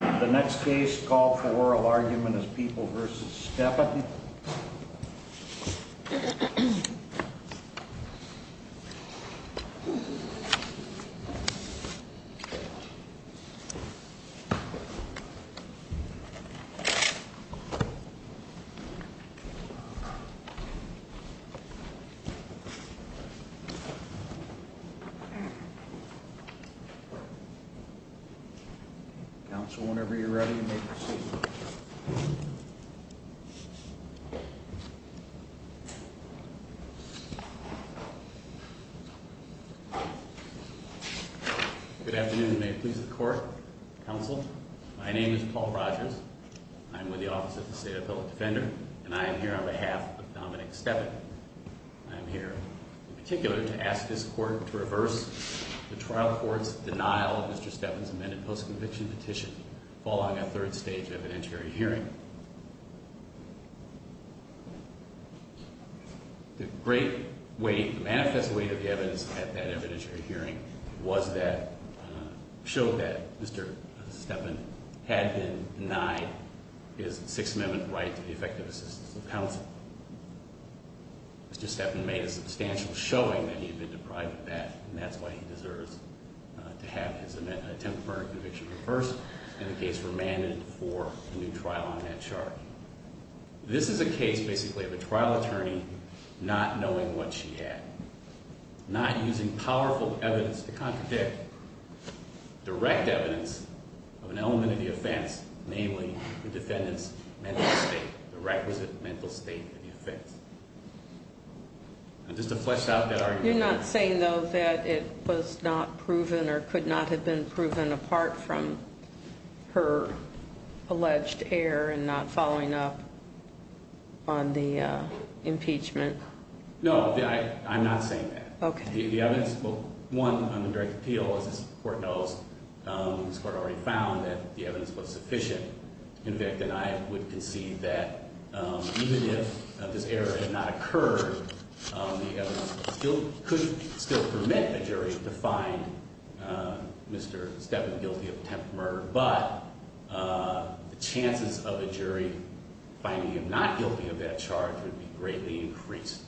The next case, call for oral argument is People v. Steppan. Counsel, whenever you're ready. Good afternoon and may it please the court. Counsel, my name is Paul Rogers. I'm with the Office of the State Appellate Defender, and I am here on behalf of Dominic Steppan. I'm here in particular to ask this court to reverse the trial court's denial of Mr. Steppan's amended post-conviction petition following a third stage evidentiary hearing. The great weight, the manifest weight of the evidence at that evidentiary hearing was that, showed that Mr. Steppan had been denied his Sixth Amendment right to the effective assistance of counsel. Mr. Steppan made a substantial showing that he had been deprived of that, and that's why he deserves to have his attempt for a conviction reversed, and the case remanded for a new trial on that chart. This is a case basically of a trial attorney not knowing what she had, not using powerful evidence to contradict direct evidence of an element of the offense, namely the defendant's mental state, the requisite mental state of the offense. Just to flesh out that argument. You're not saying, though, that it was not proven or could not have been proven apart from her alleged error in not following up on the impeachment? No, I'm not saying that. Okay. The evidence, well, one, on the direct appeal, as this court knows, this court already found that the evidence was sufficient. In fact, and I would concede that even if this error had not occurred, the evidence could still permit a jury to find Mr. Steppan guilty of attempted murder. But the chances of a jury finding him not guilty of that charge would be greatly increased.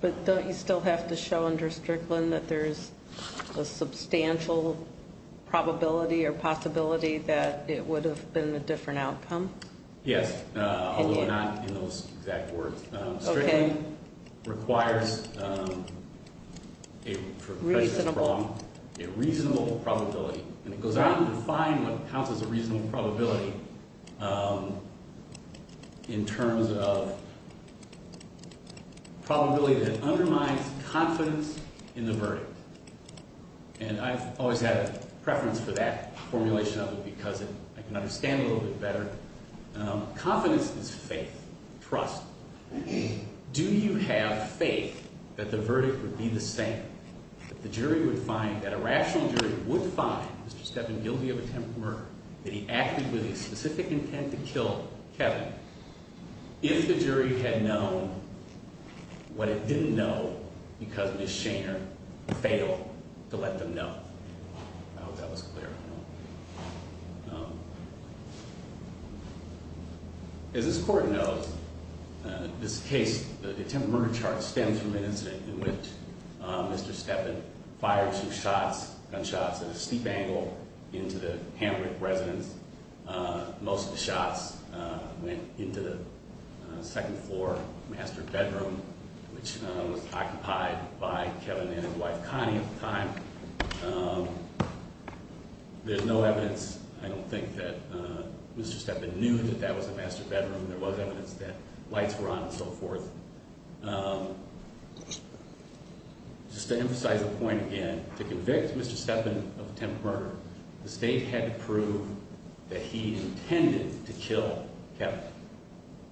But don't you still have to show under Strickland that there's a substantial probability or possibility that it would have been a different outcome? Yes, although not in those exact words. Strickland requires a reasonable probability, and it goes on to define what counts as a reasonable probability in terms of probability that undermines confidence in the verdict. And I've always had a preference for that formulation of it because I can understand it a little bit better. Confidence is faith, trust. Do you have faith that the verdict would be the same, that the jury would find, that a rational jury would find Mr. Steppan guilty of attempted murder, that he acted with a specific intent to kill Kevin, if the jury had known what it didn't know because Ms. Shaner failed to let them know? I hope that was clear. As this court knows, this case, the attempted murder chart stems from an incident in which Mr. Steppan fired two shots, gunshots, at a steep angle into the Hamrick residence. Most of the shots went into the second floor master bedroom, which was occupied by Kevin and his wife Connie at the time. There's no evidence, I don't think, that Mr. Steppan knew that that was the master bedroom. There was evidence that lights were on and so forth. Just to emphasize the point again, to convict Mr. Steppan of attempted murder, the state had to prove that he intended to kill Kevin.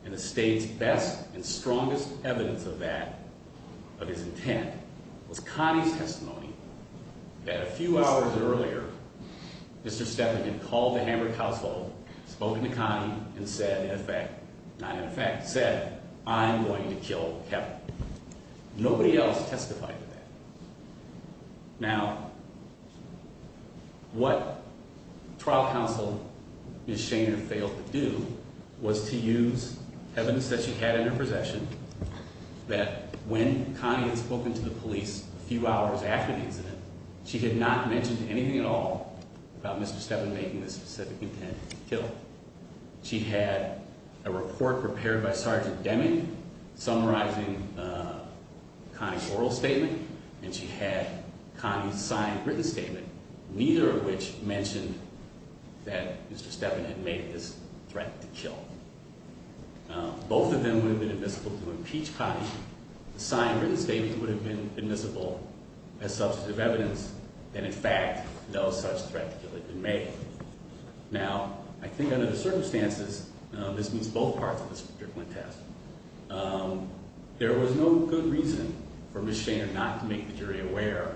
And the state's best and strongest evidence of that, of his intent, was Connie's testimony that a few hours earlier, Mr. Steppan had called the Hamrick household, spoken to Connie, and said, in effect, not in effect, said, I'm going to kill Kevin. Nobody else testified to that. Now, what trial counsel Ms. Shaner failed to do was to use evidence that she had in her possession that when Connie had spoken to the police a few hours after the incident, she had not mentioned anything at all about Mr. Steppan making the specific intent to kill him. She had a report prepared by Sergeant Deming summarizing Connie's oral statement, and she had Connie's signed written statement, neither of which mentioned that Mr. Steppan had made this threat to kill. Both of them would have been admissible to impeach Connie. The signed written statement would have been admissible as substantive evidence that, in fact, no such threat to kill had been made. Now, I think under the circumstances, this means both parts of this particular test, there was no good reason for Ms. Shaner not to make the jury aware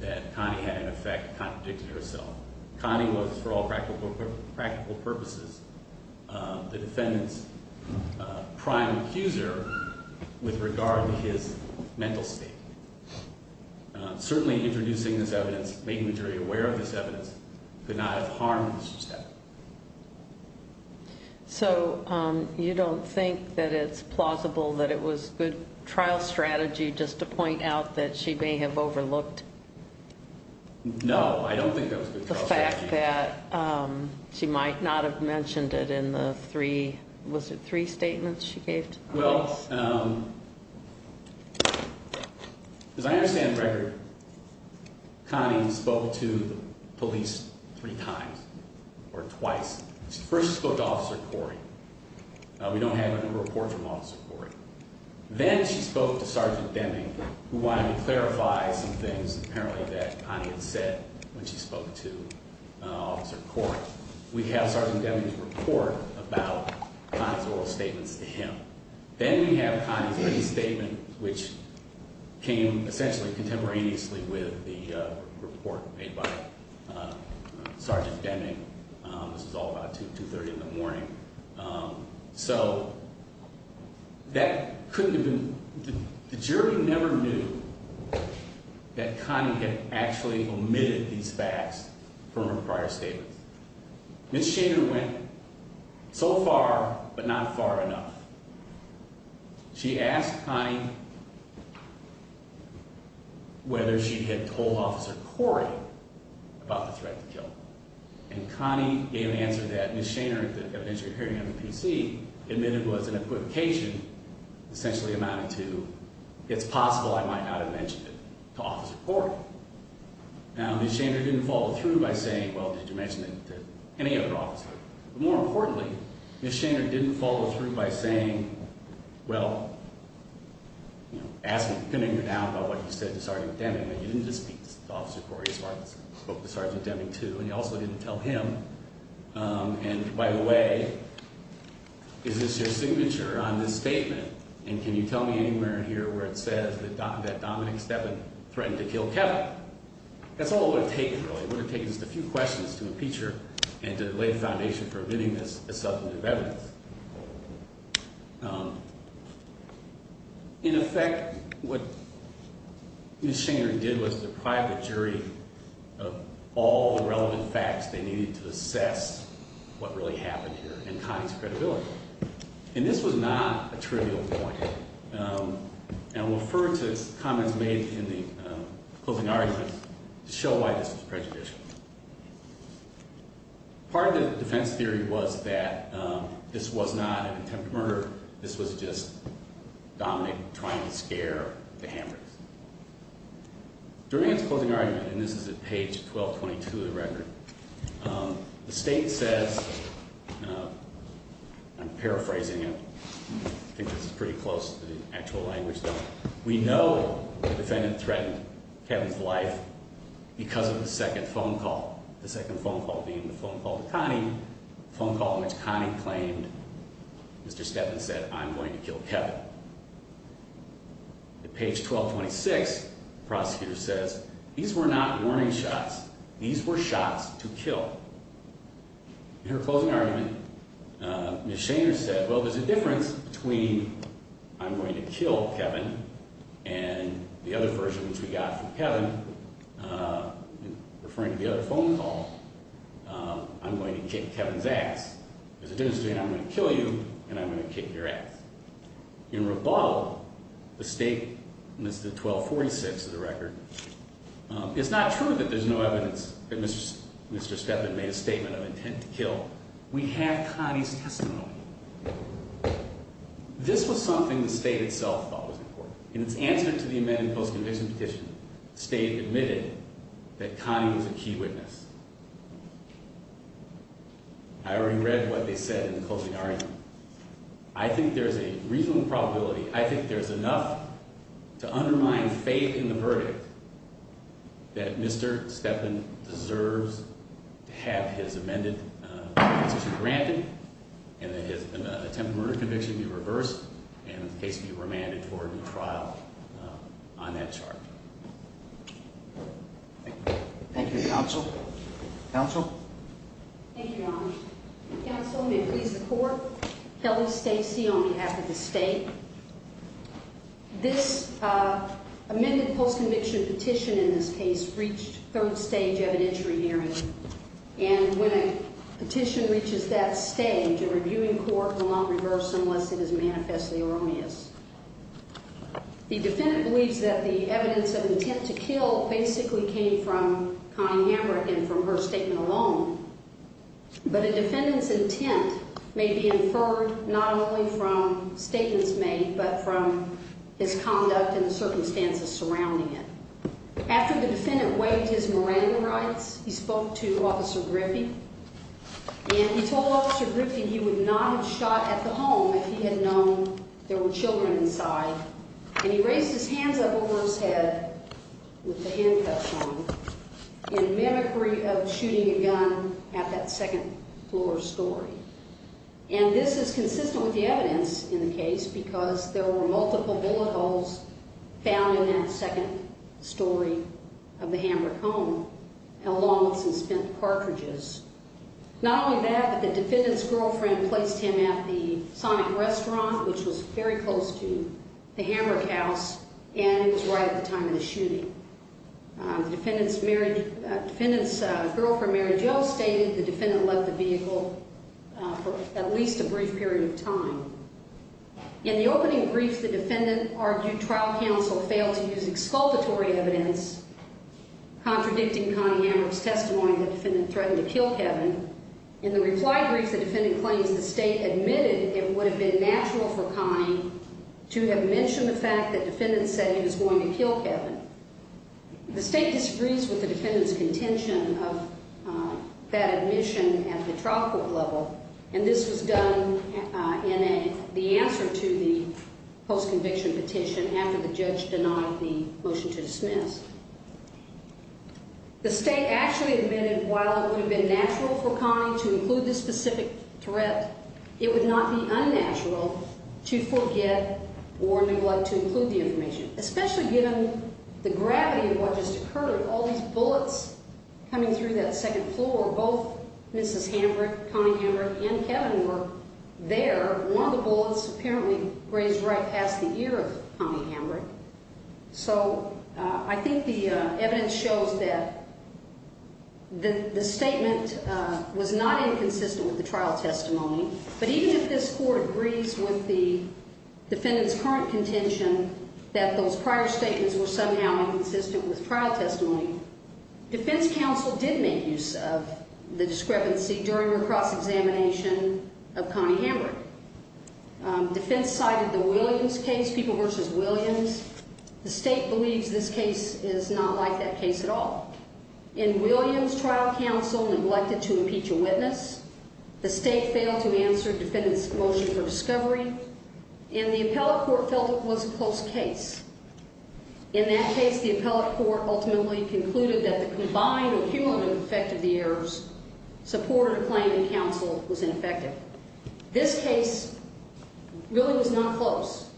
that Connie had, in effect, contradicted herself. Connie was, for all practical purposes, the defendant's prime accuser with regard to his mental state. Certainly introducing this evidence, making the jury aware of this evidence, could not have harmed Mr. Steppan. So you don't think that it's plausible that it was good trial strategy just to point out that she may have overlooked? No, I don't think that was good trial strategy. The fact that she might not have mentioned it in the three – was it three statements she gave to the police? Well, as I understand the record, Connie spoke to the police three times or twice. She first spoke to Officer Corey. We don't have a report from Officer Corey. Then she spoke to Sergeant Deming, who wanted to clarify some things apparently that Connie had said when she spoke to Officer Corey. We have Sergeant Deming's report about Connie's oral statements to him. Then we have Connie's written statement, which came essentially contemporaneously with the report made by Sergeant Deming. This was all about 2, 2.30 in the morning. So that couldn't have been – the jury never knew that Connie had actually omitted these facts from her prior statements. Ms. Shainer went so far, but not far enough. She asked Connie whether she had told Officer Corey about the threat to kill. And Connie gave an answer that Ms. Shainer, the evidence you're hearing on the PC, admitted was an equivocation, essentially amounting to, it's possible I might not have mentioned it to Officer Corey. Now, Ms. Shainer didn't follow through by saying, well, did you mention it to any other officer? But more importantly, Ms. Shainer didn't follow through by saying, well, ask me, and you can ignore now about what you said to Sergeant Deming, that you didn't just speak to Officer Corey as far as you spoke to Sergeant Deming too, and you also didn't tell him, and by the way, is this your signature on this statement, and can you tell me anywhere in here where it says that Dominic Stepin threatened to kill Kevin? That's all it would have taken, really. It would have taken just a few questions to impeach her and to lay the foundation for admitting this as substantive evidence. In effect, what Ms. Shainer did was deprive the jury of all the relevant facts they needed to assess what really happened here and Connie's credibility. And this was not a trivial point, and I'll refer to comments made in the closing arguments to show why this was prejudicial. Part of the defense theory was that this was not an attempt at murder. This was just Dominic trying to scare the hammers. During his closing argument, and this is at page 1222 of the record, the state says, and I'm paraphrasing it. I think this is pretty close to the actual language though. We know the defendant threatened Kevin's life because of the second phone call, the second phone call being the phone call to Connie, the phone call in which Connie claimed Mr. Stepin said, I'm going to kill Kevin. At page 1226, the prosecutor says, these were not warning shots. These were shots to kill. In her closing argument, Ms. Shainer said, well, there's a difference between I'm going to kill Kevin and the other version which we got from Kevin, referring to the other phone call, I'm going to kick Kevin's ass. There's a difference between I'm going to kill you and I'm going to kick your ass. In rebuttal, the state, and this is at 1246 of the record, it's not true that there's no evidence that Mr. Stepin made a statement of intent to kill. We have Connie's testimony. This was something the state itself thought was important. In its answer to the amended post-conviction petition, the state admitted that Connie was a key witness. I already read what they said in the closing argument. I think there's a reasonable probability. I think there's enough to undermine faith in the verdict that Mr. Stepin deserves to have his amended conviction granted, and that his attempted murder conviction be reversed and his case be remanded for a new trial on that chart. Thank you, counsel. Counsel? Thank you, Your Honor. Counsel, may it please the court? Kelly Stacy on behalf of the state. This amended post-conviction petition in this case reached third stage evidentiary hearing, and when a petition reaches that stage, a reviewing court will not reverse unless it is manifestly erroneous. The defendant believes that the evidence of intent to kill basically came from Connie Hamrick and from her statement alone, but a defendant's intent may be inferred not only from statements made but from his conduct and the circumstances surrounding it. After the defendant waived his memorandum rights, he spoke to Officer Griffey, and he told Officer Griffey he would not have shot at the home if he had known there were children inside, and he raised his hands up over his head with the handcuffs on in mimicry of shooting a gun at that second-floor story. And this is consistent with the evidence in the case because there were multiple bullet holes found in that second story of the Hamrick home, along with some spent cartridges. Not only that, but the defendant's girlfriend placed him at the Sonic restaurant, which was very close to the Hamrick house, and it was right at the time of the shooting. The defendant's girlfriend, Mary Jo, stated the defendant left the vehicle for at least a brief period of time. In the opening briefs, the defendant argued trial counsel failed to use exculpatory evidence, contradicting Connie Hamrick's testimony that the defendant threatened to kill Kevin. In the reply briefs, the defendant claims the State admitted it would have been natural for Connie to have mentioned the fact that the defendant said he was going to kill Kevin. The State disagrees with the defendant's contention of that admission at the trial court level, and this was done in the answer to the post-conviction petition after the judge denied the motion to dismiss. The State actually admitted while it would have been natural for Connie to include this specific threat, it would not be unnatural to forget or neglect to include the information, especially given the gravity of what just occurred with all these bullets coming through that second floor, where both Mrs. Hamrick, Connie Hamrick, and Kevin were there. One of the bullets apparently grazed right past the ear of Connie Hamrick. So I think the evidence shows that the statement was not inconsistent with the trial testimony, but even if this court agrees with the defendant's current contention that those prior statements were somehow inconsistent with trial testimony, defense counsel did make use of the discrepancy during her cross-examination of Connie Hamrick. Defense cited the Williams case, People v. Williams. The State believes this case is not like that case at all. In Williams, trial counsel neglected to impeach a witness. The State failed to answer the defendant's motion for discovery, and the appellate court felt it was a close case. In that case, the appellate court ultimately concluded that the combined or cumulative effect of the errors supported a claim in counsel was ineffective. This case really was not close.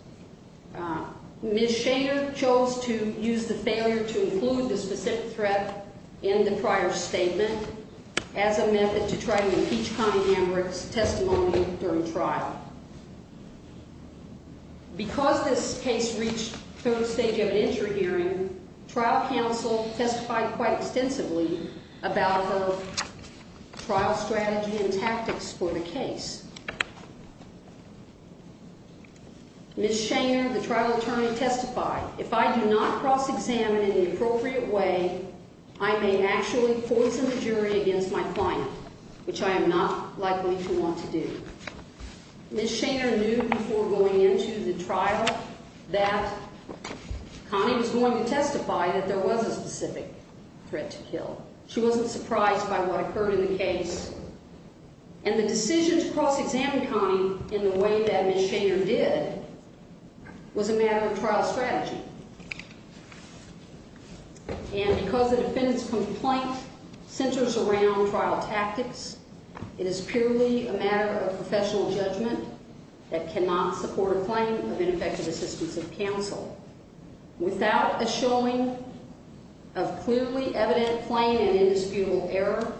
Ms. Shader chose to use the failure to include the specific threat in the prior statement as a method to try to impeach Connie Hamrick's testimony during trial. Because this case reached the third stage of an interim hearing, trial counsel testified quite extensively about her trial strategy and tactics for the case. Ms. Shader, the trial attorney, testified, If I do not cross-examine in an appropriate way, I may actually poison the jury against my client, which I am not likely to want to do. Ms. Shader knew before going into the trial that Connie was going to testify that there was a specific threat to kill. She wasn't surprised by what occurred in the case. And the decision to cross-examine Connie in the way that Ms. Shader did was a matter of trial strategy. And because the defendant's complaint centers around trial tactics, it is purely a matter of professional judgment that cannot support a claim of ineffective assistance of counsel. Without a showing of clearly evident plain and indisputable error,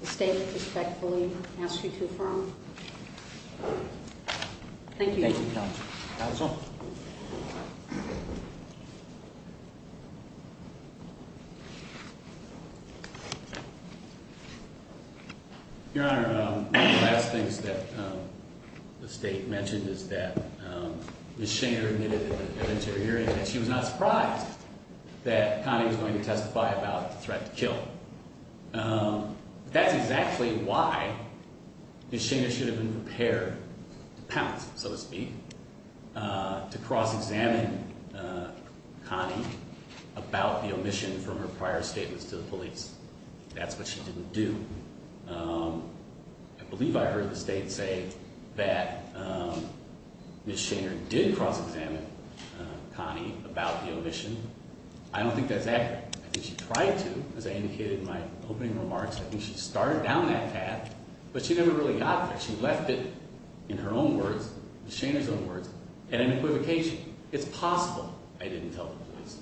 the state respectfully asks you to affirm. Thank you. Counsel? Your Honor, one of the last things that the state mentioned is that Ms. Shader admitted in an interim hearing that she was not surprised that Connie was going to testify about the threat to kill. That's exactly why Ms. Shader should have been prepared to pounce, so to speak, to cross-examine Connie about the omission from her prior statements to the police. That's what she didn't do. I believe I heard the state say that Ms. Shader did cross-examine Connie about the omission. I don't think that's accurate. I think she tried to, as I indicated in my opening remarks. I think she started down that path, but she never really got there. She left it, in her own words, Ms. Shader's own words, at an equivocation. It's possible I didn't tell the police.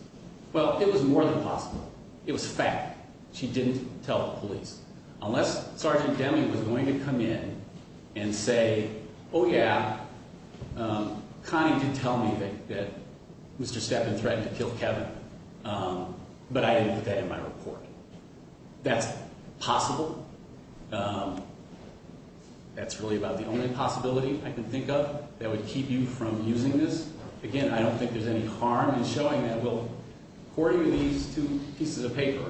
Well, it was more than possible. It was a fact. She didn't tell the police. Unless Sergeant Demme was going to come in and say, oh, yeah, Connie did tell me that Mr. Steppen threatened to kill Kevin, but I didn't put that in my report. That's possible. That's really about the only possibility I can think of that would keep you from using this. Again, I don't think there's any harm in showing that. So according to these two pieces of paper,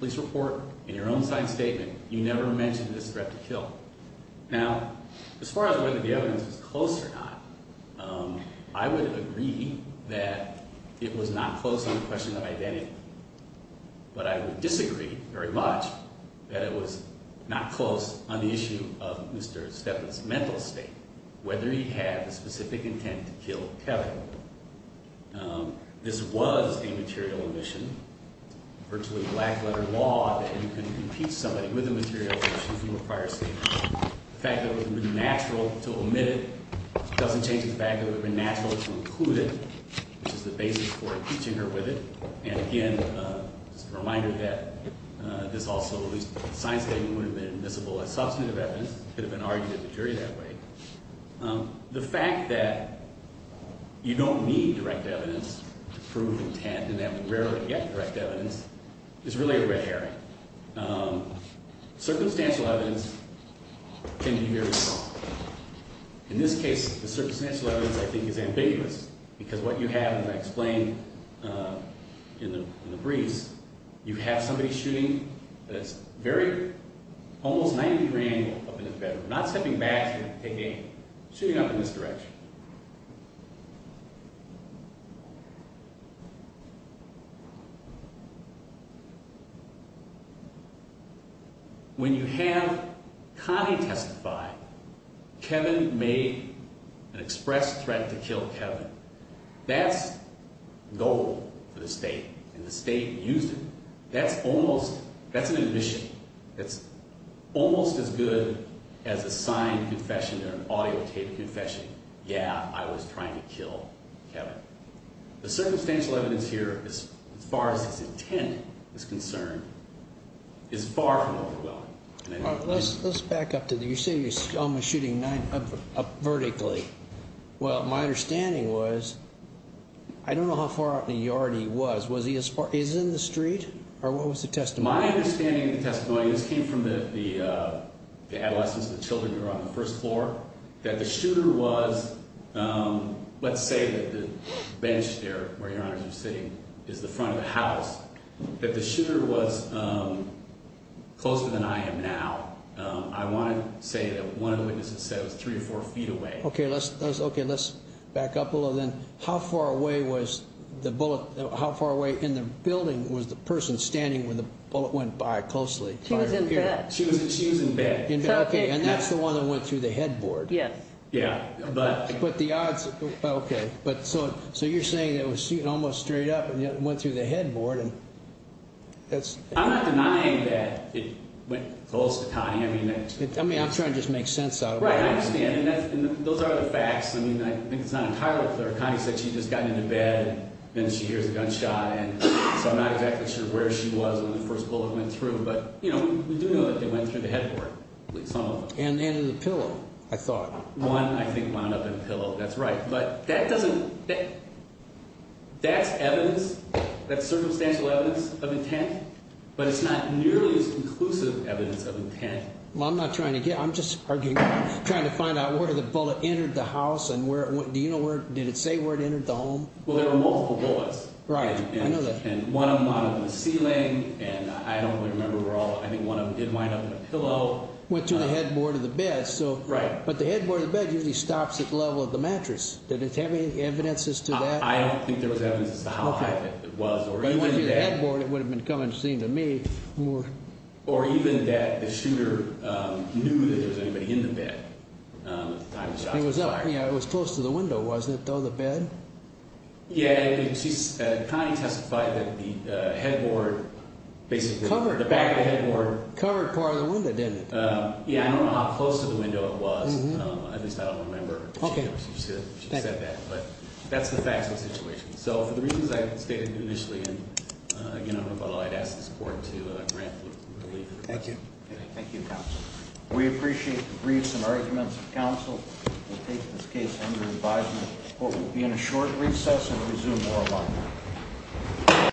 police report, in your own side statement, you never mentioned this threat to kill. Now, as far as whether the evidence was close or not, I would agree that it was not close on the question of identity. But I would disagree very much that it was not close on the issue of Mr. Steppen's mental state, whether he had the specific intent to kill Kevin. This was a material omission, virtually black-letter law that you can impeach somebody with a material omission from a prior statement. The fact that it would have been natural to omit it doesn't change the fact that it would have been natural to include it, which is the basis for impeaching her with it. And again, just a reminder that this also, at least the signed statement, would have been admissible as substantive evidence. It could have been argued at the jury that way. The fact that you don't need direct evidence to prove intent, and that we rarely get direct evidence, is really a red herring. Circumstantial evidence can be very strong. In this case, the circumstantial evidence, I think, is ambiguous because what you have, and I explained in the briefs, you have somebody shooting at a very, almost 90-degree angle up in the bedroom, not stepping back to take aim, shooting up in this direction. When you have Connie testify, Kevin made an express threat to kill Kevin. That's noble for the state, and the state used it. That's almost, that's an admission. It's almost as good as a signed confession or an audio tape confession. Yeah, I was trying to kill Kevin. The circumstantial evidence here, as far as his intent is concerned, is far from overwhelming. Let's back up to the, you say he's almost shooting up vertically. Well, my understanding was, I don't know how far out in the yard he was. Was he as far, is he in the street, or what was the testimony? My understanding of the testimony, this came from the adolescents and the children who were on the first floor, that the shooter was, let's say that the bench there where your honors are sitting is the front of the house, that the shooter was closer than I am now. I want to say that one of the witnesses said it was three or four feet away. Okay, let's back up a little then. How far away was the bullet, how far away in the building was the person standing where the bullet went by closely? She was in bed. She was in bed. In bed, okay, and that's the one that went through the headboard. Yes. Yeah, but. But the odds, okay. So you're saying that it was shooting almost straight up and went through the headboard. I'm not denying that it went close to Connie. I mean, I'm trying to just make sense out of it. Right, I understand, and those are the facts. I mean, I think it's not entirely clear. Connie said she'd just gotten into bed, and then she hears a gunshot, and so I'm not exactly sure where she was when the first bullet went through. But, you know, we do know that they went through the headboard, at least some of them. And in the pillow, I thought. One, I think, wound up in a pillow, that's right. But that doesn't, that's evidence, that's circumstantial evidence of intent, but it's not nearly as conclusive evidence of intent. Well, I'm not trying to get, I'm just arguing, trying to find out where the bullet entered the house and where it went. Do you know where, did it say where it entered the home? Well, there were multiple bullets. Right, I know that. And one of them wound up in the ceiling, and I don't really remember where all, I think one of them did wind up in a pillow. Went through the headboard of the bed, so. Right. But the headboard of the bed usually stops at the level of the mattress. Did it have any evidence as to that? I don't think there was evidence as to how high it was, or even that. But if it went through the headboard, it would have been coming, it seemed to me, more. Or even that the shooter knew that there was anybody in the bed at the time the shot was fired. Yeah, it was close to the window, wasn't it, though, the bed? Yeah, Connie testified that the headboard basically, the back of the headboard. Covered part of the window, didn't it? Yeah, I don't know how close to the window it was, at least I don't remember she said that. But that's the facts of the situation. So for the reasons I stated initially, and again, I don't know about all, I'd ask the support to grant relief. Thank you. Thank you, counsel. We appreciate the briefs and arguments of counsel. We'll take this case under advisement. The court will be in a short recess and resume oral argument.